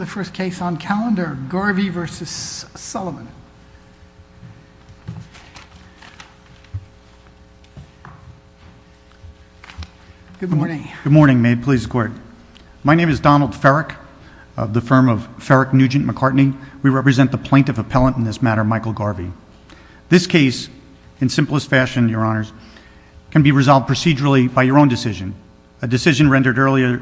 the first case on calendar Garvey v. Sullivan. Good morning. Good morning. May it please the court. My name is Donald Farrick of the firm of Farrick, Nugent, McCartney. We represent the plaintiff appellant in this matter, Michael Garvey. This case, in simplest fashion, your honors, can be resolved procedurally by your own decision. A decision rendered earlier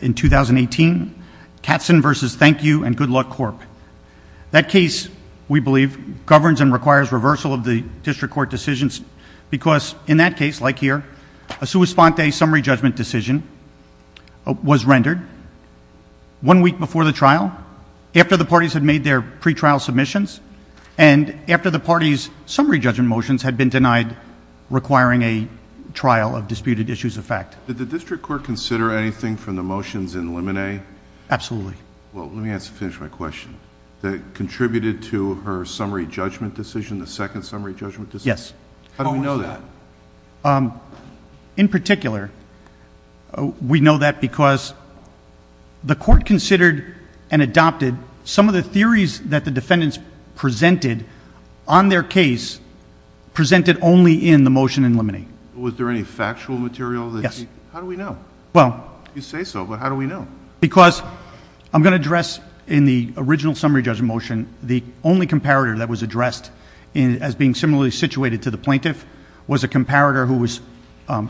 in 2018, Katzen v. Thank You and Good Luck Corp. That case, we believe, governs and requires reversal of the district court decisions because in that case, like here, a sua sponte summary judgment decision was rendered one week before the trial, after the parties had made their pre-trial submissions, and after the parties' summary judgment motions had been denied requiring a trial of disputed issues of fact. Did the district court consider anything from the motions in limine? Absolutely. Well, let me finish my question. That contributed to her summary judgment decision, the second summary judgment decision? Yes. How do we know that? In particular, we know that because the court considered and adopted some of the theories that the defendants presented on their case, presented only in the motion in limine. Was there any factual material? Yes. How do we know? Well, you say so, but how do we know? Because I'm going to address in the original summary judgment motion, the only comparator that was addressed as being similarly situated to the plaintiff was a comparator who was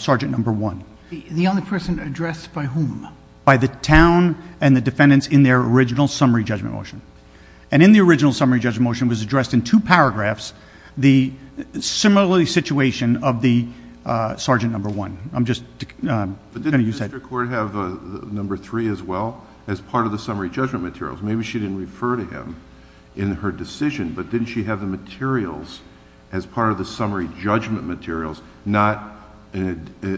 sergeant number one. The only person addressed by whom? By the town and the defendants in their original summary judgment motion. And in the original summary judgment motion was addressed in two paragraphs, the similarly situation of the sergeant number one. I'm just going to use that. But didn't the district court have number three as well, as part of the summary judgment materials? Maybe she didn't refer to him in her decision, but didn't she have the materials as part of the summary judgment materials, not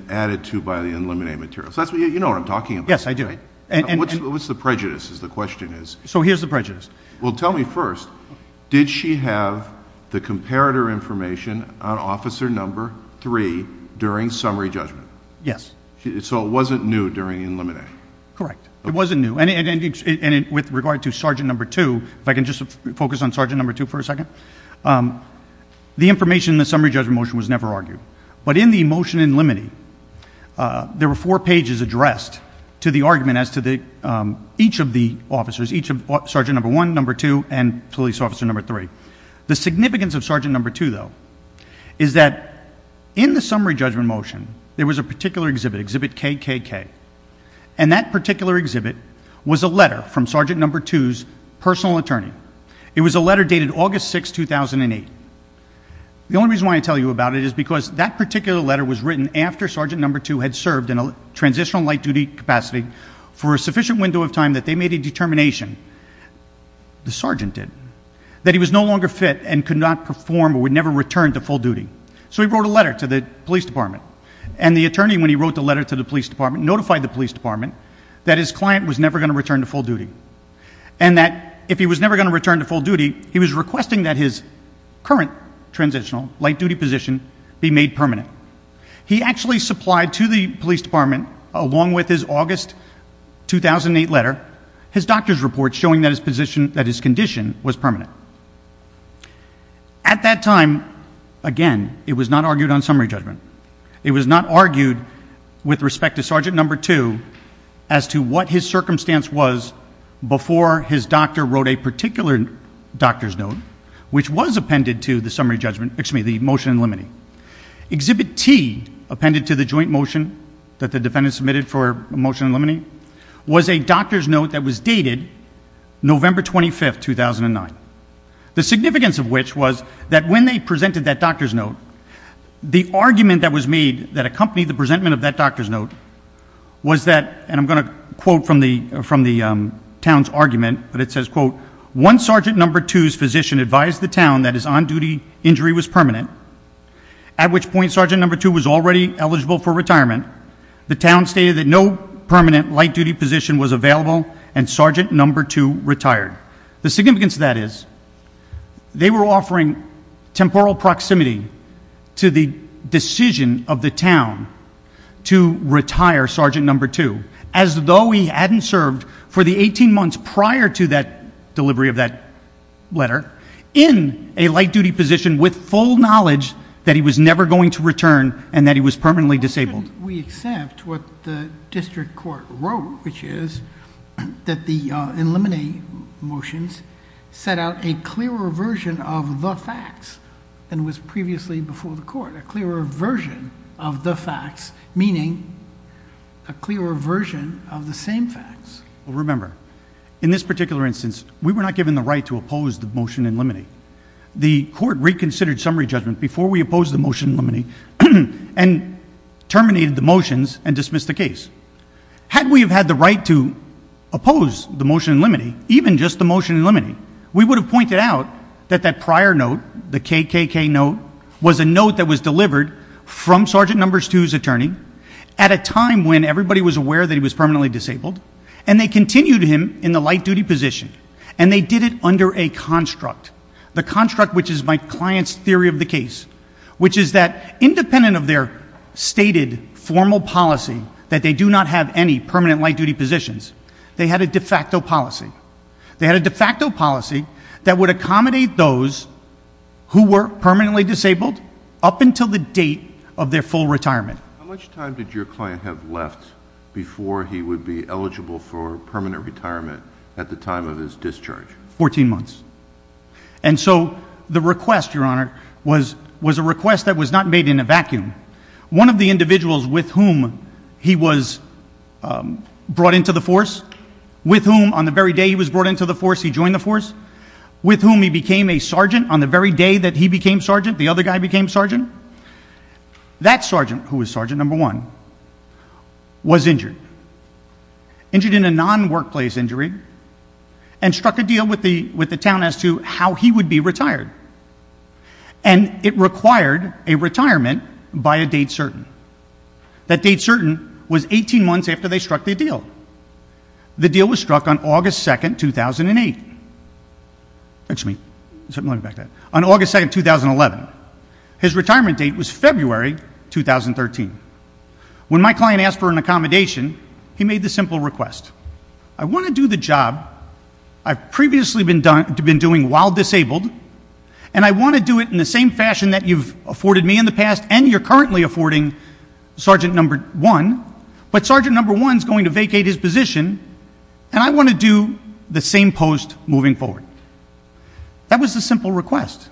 added to by the in limine materials? You know what I'm talking about, right? Yes, I do. What's the prejudice is the question is. So here's the prejudice. Well, tell me first, did she have the comparator information on officer number three during summary judgment? Yes. So it wasn't new during in limine? Correct. It wasn't new. And with regard to sergeant number two, if I can just focus on sergeant number two for a second, the information in the summary judgment motion was never argued. But in the motion in limine, there were four pages addressed to the argument as to each of the officers, each of sergeant number one, number two, and police officer number three. The significance of sergeant number two, though, is that in the summary judgment motion, there was a particular exhibit, exhibit KKK. And that particular exhibit was a letter from sergeant number two's personal attorney. It was a letter dated August 6, 2008. The only reason why I tell you about it is because that particular letter was written after sergeant number two had served in a transitional light duty capacity for a sufficient window of time that they made a determination, the sergeant did, that he was no longer fit and could not perform or would never return to full duty. So he wrote a letter to the police department. And the attorney, when he wrote the letter to the police department, notified the police department that his client was never going to return to full duty and that if he was never going to return to full duty, he was requesting that his current transitional light duty position be made permanent. He actually supplied to the police department, along with his August 2008 letter, his doctor's report showing that his condition was permanent. At that time, again, it was not argued on summary judgment. It was not argued with respect to sergeant number two as to what his circumstance was before his doctor wrote a particular doctor's note. Exhibit T, which was appended to the motion in limine. Exhibit T, appended to the joint motion that the defendant submitted for a motion in limine, was a doctor's note that was dated November 25, 2009. The significance of which was that when they presented that doctor's note, the argument that was made that accompanied the presentment of that doctor's note was that, and I'm going to quote from the town's argument, but it says, quote, once sergeant number two's physician advised the town that his on-duty injury was permanent, at which point sergeant number two was already eligible for retirement, the town stated that no permanent light duty position was available and sergeant number two retired. The significance of that is they were offering temporal proximity to the decision of the town to retire sergeant number two as though he hadn't served for the 18 months prior to that delivery of that letter, in a light duty position with full knowledge that he was never going to return and that he was permanently disabled. Why shouldn't we accept what the district court wrote, which is that the in limine motions set out a clearer version of the facts than was previously before the court, a clearer version of the facts, meaning a clearer version of the same facts. Remember, in this particular instance, we were not given the right to oppose the motion in limine. The court reconsidered summary judgment before we opposed the motion in limine and terminated the motions and dismissed the case. Had we have had the right to oppose the motion in limine, even just the motion in limine, we would have pointed out that prior note, the KKK note, was a note that was delivered from sergeant number two's attorney at a time when everybody was aware that he was permanently disabled and they continued him in the light duty position and they did it under a construct, the construct which is my client's theory of the case, which is that independent of their stated formal policy that they do not have any permanent light duty positions, they had a de facto policy. They had a de facto policy that would accommodate those who were permanently disabled up until the date of their full retirement. How much time did your client have left before he would be eligible for permanent retirement at the time of his discharge? Fourteen months. And so the request, your honor, was a request that was not made in a vacuum. One of the individuals with whom he was brought into the force, with whom on the very day he was brought into the force, he joined the force, with whom he became a sergeant on the very day that he became sergeant, the other guy became sergeant, that sergeant, who was sergeant number one, was injured. Injured in a non-workplace injury and struck a deal with the town as to how he would be retired. And it required a retirement by a date certain. That date certain was 18 months after they struck the deal. The deal was struck on August 2nd, 2008. Excuse me, let me back that. On August 2nd, 2011. His retirement date was February 2013. When my client asked for an accommodation, he made the simple request. I want to do the job I've previously been doing while disabled and I want to do it in the same fashion that you've afforded me in the past and you're currently affording sergeant number one, but sergeant number one is going to vacate his position and I want to do the same post moving forward. That was the simple request.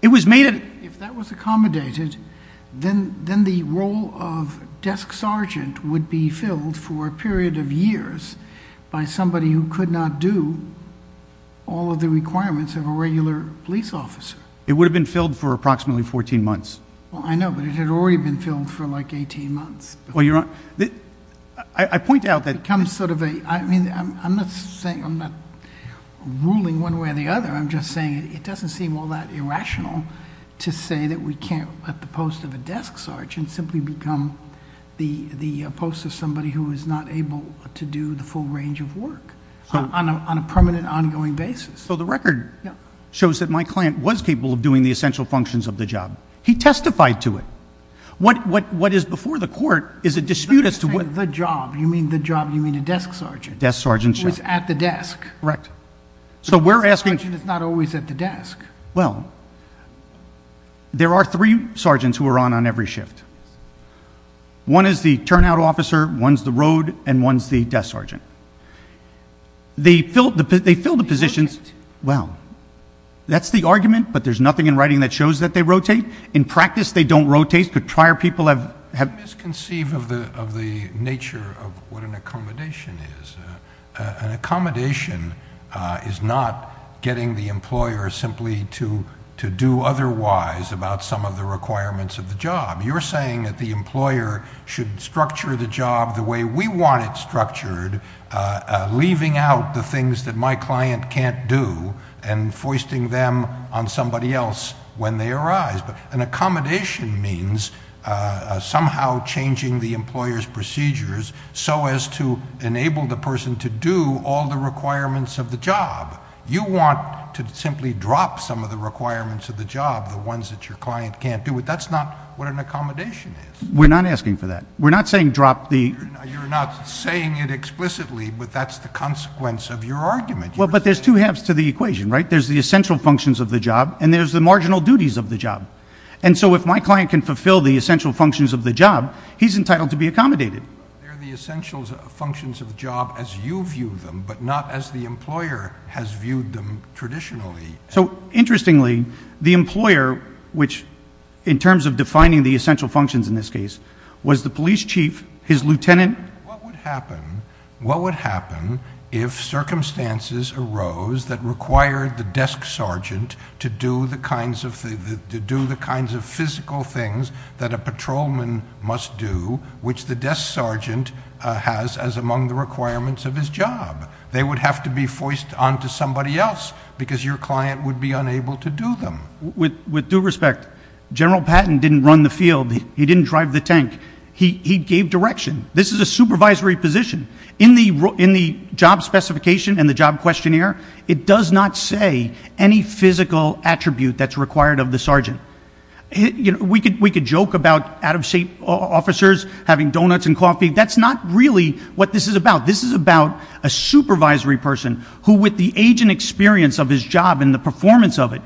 It was made at... If that was accommodated, then the role of desk sergeant would be filled for a period of years by somebody who could not do all of the requirements of a regular police officer. It would have been filled for approximately 14 months. I know, but it had already been filled for like 18 months. Well, you're on... I point out that... It becomes sort of a... I mean, I'm not saying... I'm not ruling one way or the other. I'm just saying it doesn't seem all that irrational to say that we can't let the post of a desk sergeant simply become the post of somebody who is not able to do the full range of work on a permanent, ongoing basis. So the record shows that my client was capable of doing the essential functions of the job. He testified to it. What is before the court is a dispute as to what... When you say the job, you mean the job, you mean a desk sergeant. Desk sergeant, yes. Who is at the desk. Correct. So we're asking... It's not always at the desk. Well, there are three sergeants who are on on every shift. One is the turnout officer, one's the road, and one's the desk sergeant. They fill the positions... They rotate. Well, that's the argument, but there's nothing in writing that shows that they rotate. In practice, they don't rotate, but prior people have... You misconceive of the nature of what an accommodation is. An accommodation is not getting the employer simply to do otherwise about some of the requirements of the job. You're saying that the employer should structure the job the way we want it structured, leaving out the things that my client can't do and foisting them on somebody else when they arise. But an accommodation means somehow changing the employer's procedures so as to enable the person to do all the requirements of the job. You want to simply drop some of the requirements of the job, the ones that your client can't do, but that's not what an accommodation is. We're not asking for that. We're not saying drop the... You're not saying it explicitly, but that's the consequence of your argument. Well, but there's two halves to the equation, right? There's the essential functions of the job, and there's the marginal duties of the job. And so if my client can fulfill the essential functions of the job, he's entitled to be accommodated. They're the essential functions of the job as you view them, but not as the employer has viewed them traditionally. So interestingly, the employer, which in terms of defining the essential functions in this case, was the police chief, his lieutenant... What would happen if circumstances arose that required the desk sergeant to do the kinds of physical things that a patrolman must do, which the desk sergeant has as among the requirements of his job? They would have to be foisted onto somebody else because your client would be unable to do them. With due respect, General Patton didn't run the field. He didn't drive the tank. He gave direction. This is a supervisory position. In the job specification and the job questionnaire, it does not say any physical attribute that's required of the sergeant. We could joke about out-of-shape officers having donuts and coffee. That's not really what this is about. This is about a supervisory person who, with the age and experience of his job and the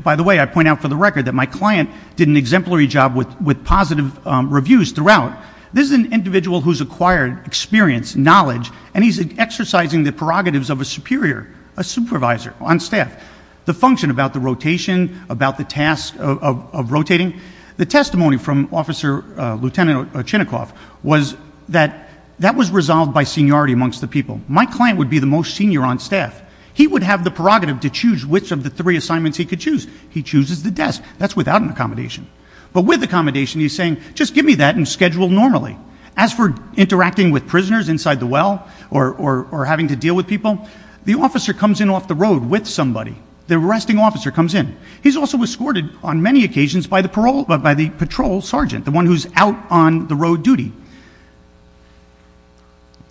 By the way, I point out for the record that my client did an exemplary job with positive reviews throughout. This is an individual who's acquired experience, knowledge, and he's exercising the prerogatives of a superior, a supervisor on staff. The function about the rotation, about the task of rotating, the testimony from Officer Lieutenant Chinnikoff was that that was resolved by seniority amongst the people. My client would be the most senior on staff. He would have the prerogative to choose which of the three assignments he could choose. He chooses the desk. That's without an accommodation. But with accommodation, he's saying, just give me that and schedule normally. As for interacting with prisoners inside the well or having to deal with people, the officer comes in off the road with somebody. The arresting officer comes in. He's also escorted on many occasions by the patrol sergeant, the one who's out on the road duty.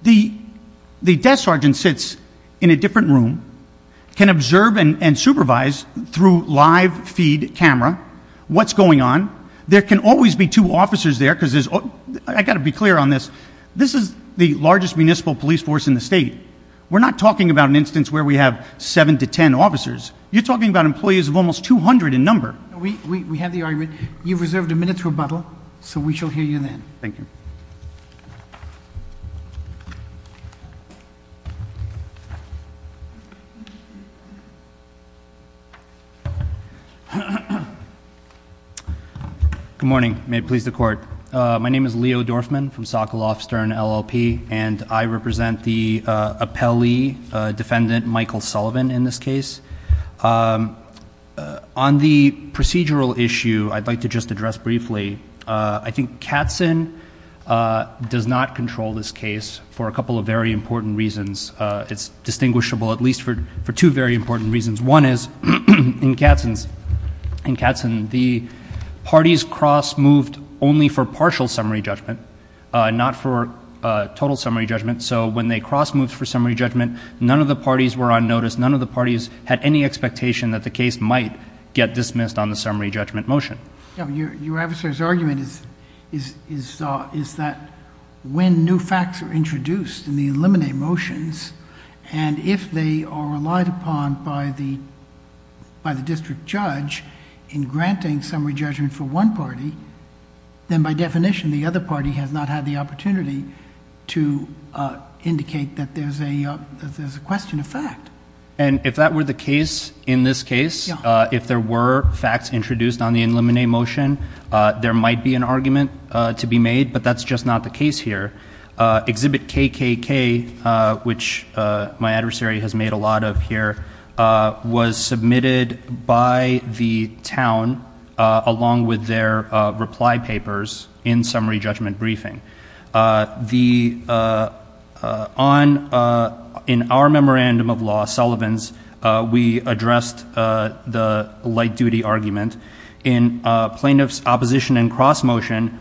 The desk sergeant sits in a different room, can observe and supervise through live feed camera what's going on. There can always be two officers there. I've got to be clear on this. This is the largest municipal police force in the state. We're not talking about an instance where we have seven to ten officers. You're talking about employees of almost 200 in number. We have the argument. You've reserved a minute to rebuttal, so we shall hear you then. Thank you. Good morning. May it please the Court. My name is Leo Dorfman from Sokoloff Stern LLP, and I represent the appellee defendant Michael Sullivan in this case. On the procedural issue, I'd like to just address briefly. I think Katzen does not control this case for a couple of very important reasons. It's distinguishable at least for two very important reasons. One is, in Katzen, the parties cross-moved only for partial summary judgment, not for total summary judgment. So when they cross-moved for summary judgment, none of the parties were on notice. None of the parties had any expectation that the case might get dismissed on the summary judgment motion. Your adversary's argument is that when new facts are introduced in the eliminate motions, and if they are relied upon by the district judge in granting summary judgment for one party, then by definition the other party has not had the opportunity to indicate that there's a question of fact. And if that were the case in this case, if there were facts introduced on the eliminate motion, there might be an argument to be made, but that's just not the case here. Exhibit KKK, which my adversary has made a lot of here, was submitted by the town along with their reply papers in summary judgment briefing. In our memorandum of law, Sullivan's, we addressed the light-duty argument. In plaintiff's opposition and cross-motion,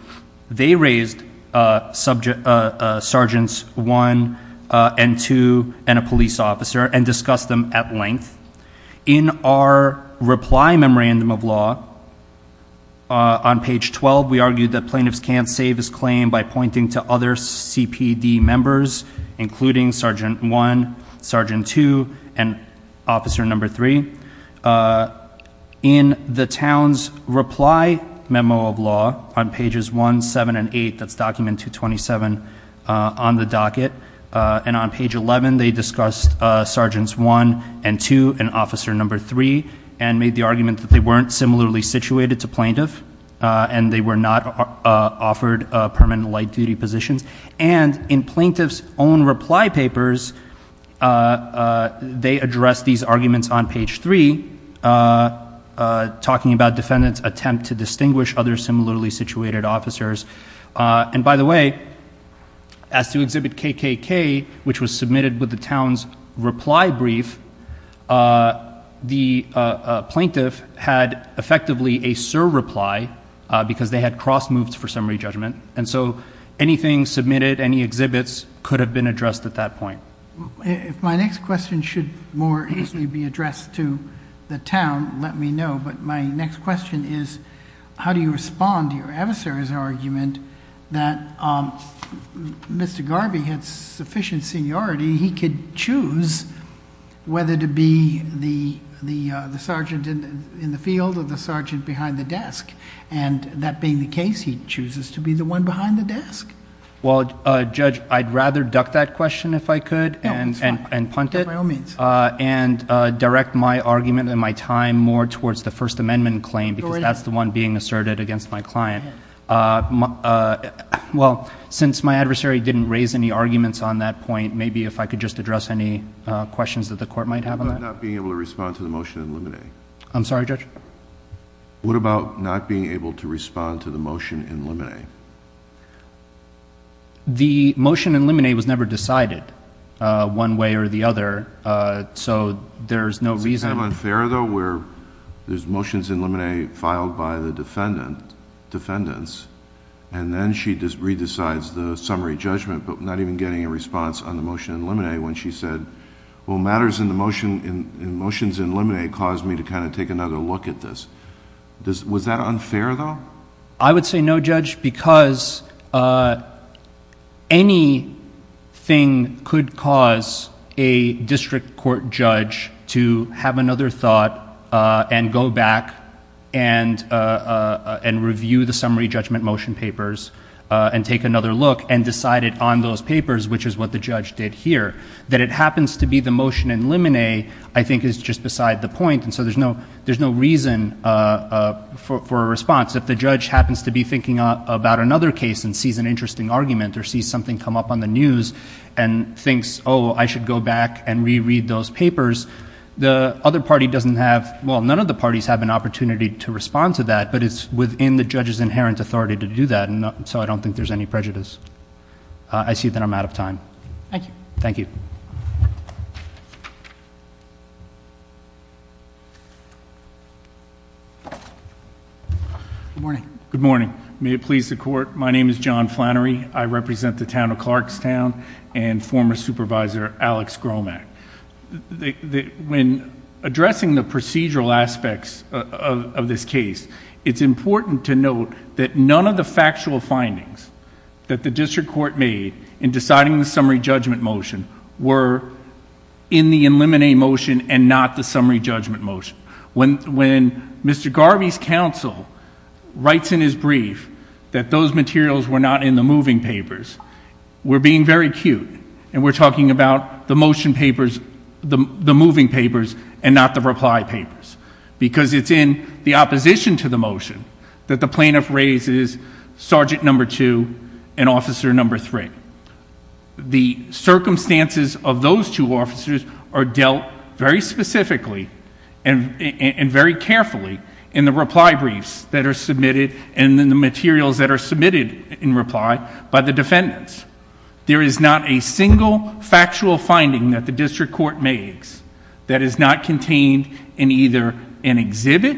they raised sergeants one and two and a police officer and discussed them at length. In our reply memorandum of law on page 12, we argued that plaintiffs can't save his claim by pointing to other CPD members, including sergeant one, sergeant two, and officer number three. In the town's reply memo of law on pages one, seven, and eight, that's document 227 on the docket, and on page 11, they discussed sergeants one and two and officer number three, and made the argument that they weren't similarly situated to plaintiff, and they were not offered permanent light-duty positions. In plaintiff's own reply papers, they addressed these arguments on page three, talking about defendants' attempt to distinguish other similarly situated officers. By the way, as to Exhibit KKK, which was submitted with the town's reply brief, the plaintiff had effectively a surreply because they had cross-moved for summary judgment. And so anything submitted, any exhibits, could have been addressed at that point. If my next question should more easily be addressed to the town, let me know, but my next question is how do you respond to your adversary's argument that Mr. Garvey had sufficient seniority, he could choose whether to be the sergeant in the field or the sergeant behind the desk, and that being the case, he chooses to be the one behind the desk? Well, Judge, I'd rather duck that question, if I could, and punt it, and direct my argument and my time more towards the First Amendment claim, because that's the one being asserted against my client. Well, since my adversary didn't raise any arguments on that point, maybe if I could just address any questions that the Court might have on that. I'm not being able to respond to the motion in limine. I'm sorry, Judge? What about not being able to respond to the motion in limine? The motion in limine was never decided one way or the other, so there's no reason... Is it kind of unfair, though, where there's motions in limine filed by the defendants, and then she just re-decides the summary judgment, but not even getting a response on the motion in limine when she said, well, matters in the motions in limine caused me to kind of take another look at this. Was that unfair, though? I would say no, Judge, because anything could cause a district court judge to have another thought and go back and review the summary judgment motion papers and take another look and decide it on those papers, which is what the judge did here. That it happens to be the motion in limine, I think, is just beside the point, and so there's no reason for a response. If the judge happens to be thinking about another case and sees an interesting argument or sees something come up on the news and thinks, oh, I should go back and re-read those papers, the other party doesn't have... Well, none of the parties have an opportunity to respond to that, but it's within the judge's inherent authority to do that, so I don't think there's any prejudice. I see that I'm out of time. Thank you. Thank you. Good morning. Good morning. May it please the Court, my name is John Flannery. I represent the town of Clarkstown and former supervisor Alex Gromack. When addressing the procedural aspects of this case, it's important to note that none of the factual findings that the district court made in deciding the summary judgment motion were in the limine motion and not the summary judgment motion. When Mr. Garvey's counsel writes in his brief that those materials were not in the moving papers, we're being very cute and we're talking about the motion papers, the moving papers, and not the reply papers because it's in the opposition to the motion that the plaintiff raises Sergeant No. 2 and Officer No. 3. The circumstances of those two officers are dealt very specifically and very carefully in the reply briefs that are submitted and in the materials that are submitted in reply by the defendants. There is not a single factual finding that the district court makes that is not contained in either an exhibit,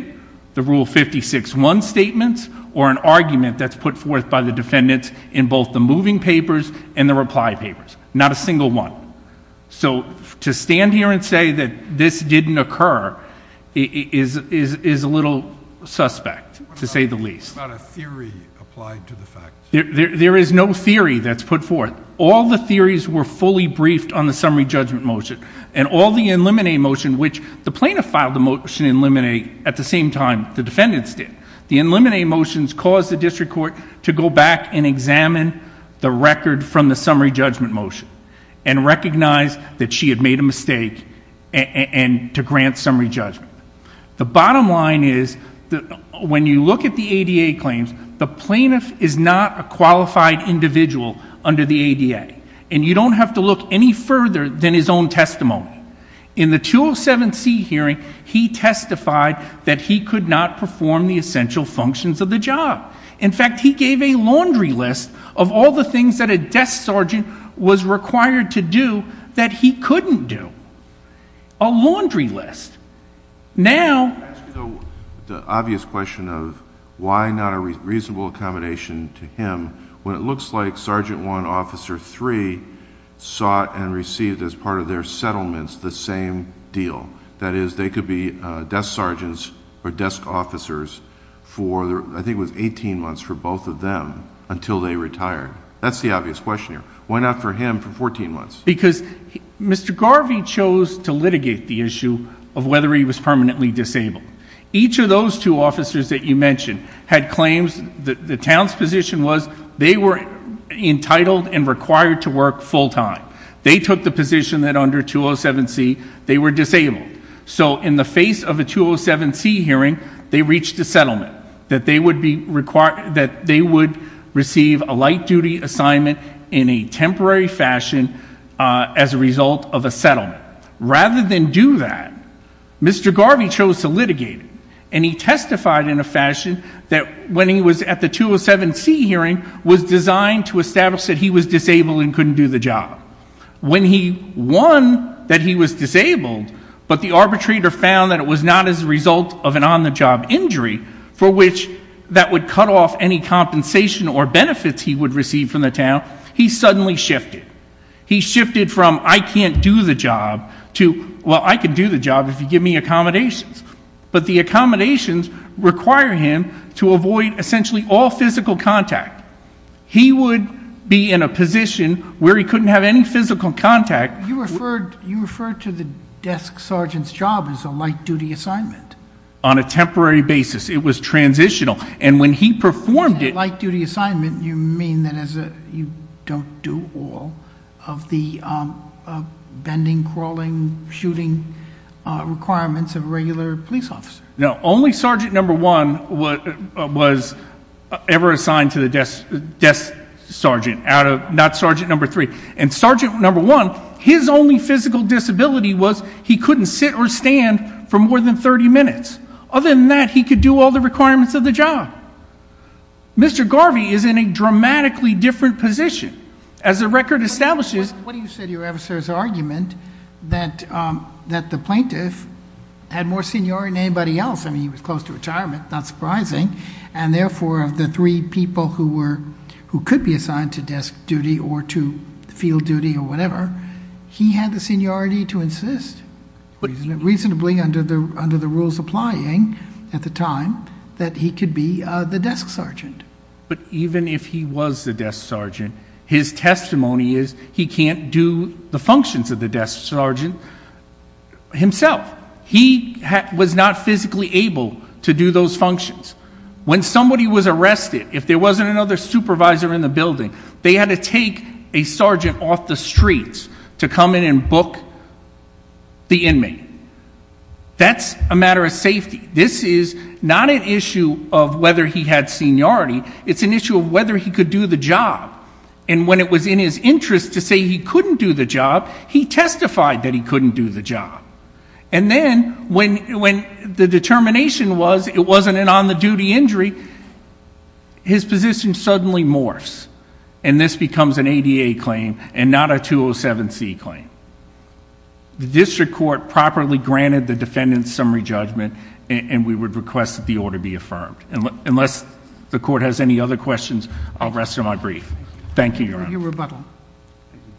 the Rule 56-1 statements, or an argument that's put forth by the defendants in both the moving papers and the reply papers. Not a single one. So to stand here and say that this didn't occur is a little suspect, to say the least. What about a theory applied to the facts? There is no theory that's put forth. All the theories were fully briefed on the summary judgment motion and all the eliminate motion, which the plaintiff filed the motion to eliminate at the same time the defendants did. The eliminate motions caused the district court to go back and examine the record from the summary judgment motion and recognize that she had made a mistake and to grant summary judgment. The bottom line is when you look at the ADA claims, the plaintiff is not a qualified individual under the ADA, and you don't have to look any further than his own testimony. In the 207C hearing, he testified that he could not perform the essential functions of the job. In fact, he gave a laundry list of all the things that a desk sergeant was required to do that he couldn't do. A laundry list. Now... The obvious question of why not a reasonable accommodation to him when it looks like Sergeant 1, Officer 3 sought and received as part of their settlements the same deal. That is, they could be desk sergeants or desk officers for, I think it was 18 months for both of them until they retired. That's the obvious question here. Why not for him for 14 months? Because Mr. Garvey chose to litigate the issue of whether he was permanently disabled. Each of those two officers that you mentioned had claims. The town's position was they were entitled and required to work full-time. They took the position that under 207C they were disabled. So in the face of a 207C hearing, they reached a settlement that they would receive a light-duty assignment in a temporary fashion as a result of a settlement. Rather than do that, Mr. Garvey chose to litigate it. And he testified in a fashion that when he was at the 207C hearing, was designed to establish that he was disabled and couldn't do the job. When he won that he was disabled, but the arbitrator found that it was not as a result of an on-the-job injury for which that would cut off any compensation or benefits he would receive from the town, he suddenly shifted. He shifted from I can't do the job to, well, I can do the job if you give me accommodations. But the accommodations require him to avoid essentially all physical contact. He would be in a position where he couldn't have any physical contact. You referred to the desk sergeant's job as a light-duty assignment. On a temporary basis. It was transitional. And when he performed it. By light-duty assignment, you mean that you don't do all of the bending, crawling, shooting requirements of a regular police officer. No, only sergeant number one was ever assigned to the desk sergeant, not sergeant number three. And sergeant number one, his only physical disability was he couldn't sit or stand for more than 30 minutes. Other than that, he could do all the requirements of the job. Mr. Garvey is in a dramatically different position. As the record establishes. What do you say to your officer's argument that the plaintiff had more seniority than anybody else? I mean, he was close to retirement, not surprising. And, therefore, of the three people who could be assigned to desk duty or to field duty or whatever, he had the seniority to insist, reasonably under the rules applying at the time, that he could be the desk sergeant. But even if he was the desk sergeant, his testimony is he can't do the functions of the desk sergeant himself. He was not physically able to do those functions. When somebody was arrested, if there wasn't another supervisor in the building, they had to take a sergeant off the streets to come in and book the inmate. That's a matter of safety. This is not an issue of whether he had seniority. It's an issue of whether he could do the job. And when it was in his interest to say he couldn't do the job, he testified that he couldn't do the job. And then when the determination was it wasn't an on-the-duty injury, his position suddenly morphs, and this becomes an ADA claim and not a 207C claim. The district court properly granted the defendant's summary judgment, and we would request that the order be affirmed. Unless the court has any other questions, I'll rest on my brief. Thank you, Your Honor. Thank you for your rebuttal. Thank you.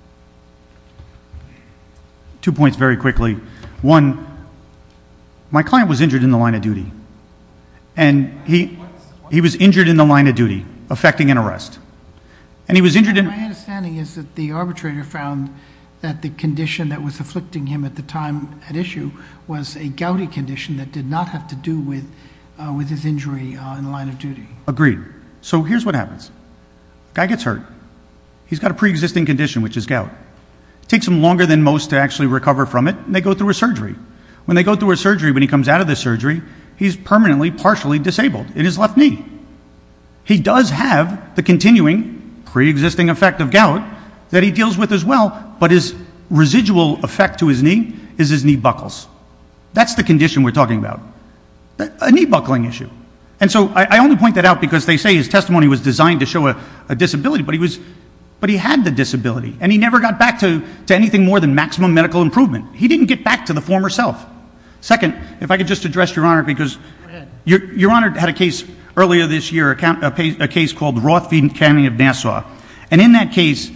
Two points very quickly. One, my client was injured in the line of duty, and he was injured in the line of duty affecting an arrest. And he was injured in- My understanding is that the arbitrator found that the condition that was afflicting him at the time at issue was a gouty condition that did not have to do with his injury in the line of duty. Agreed. So here's what happens. Guy gets hurt. He's got a preexisting condition, which is gout. It takes him longer than most to actually recover from it, and they go through a surgery. When they go through a surgery, when he comes out of the surgery, he's permanently partially disabled in his left knee. He does have the continuing preexisting effect of gout that he deals with as well, but his residual effect to his knee is his knee buckles. That's the condition we're talking about, a knee buckling issue. And so I only point that out because they say his testimony was designed to show a disability, but he had the disability, and he never got back to anything more than maximum medical improvement. He didn't get back to the former self. Second, if I could just address Your Honor, because Your Honor had a case earlier this year, a case called Rothfield County of Nassau, and in that case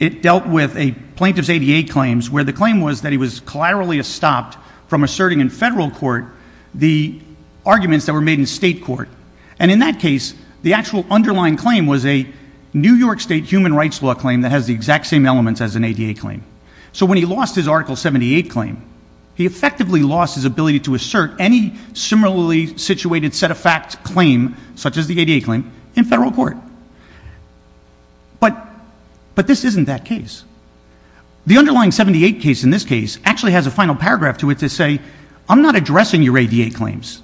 it dealt with a plaintiff's ADA claims where the claim was that he was collaterally stopped from asserting in federal court the arguments that were made in state court. And in that case, the actual underlying claim was a New York State human rights law claim that has the exact same elements as an ADA claim. So when he lost his Article 78 claim, he effectively lost his ability to assert any similarly situated set-of-facts claim, such as the ADA claim, in federal court. But this isn't that case. The underlying 78 case in this case actually has a final paragraph to it to say, I'm not addressing your ADA claims.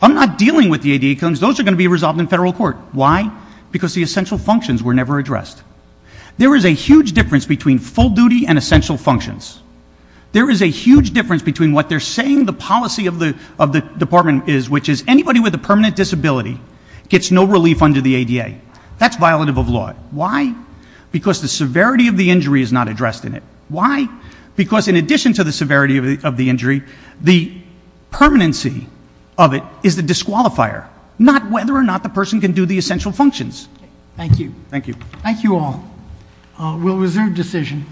I'm not dealing with the ADA claims. Those are going to be resolved in federal court. Why? Because the essential functions were never addressed. There is a huge difference between full duty and essential functions. There is a huge difference between what they're saying the policy of the Department is, which is anybody with a permanent disability gets no relief under the ADA. That's violative of law. Why? Because the severity of the injury is not addressed in it. Why? Because in addition to the severity of the injury, the permanency of it is the disqualifier, not whether or not the person can do the essential functions. Thank you. Thank you. Thank you all. We'll reserve decision.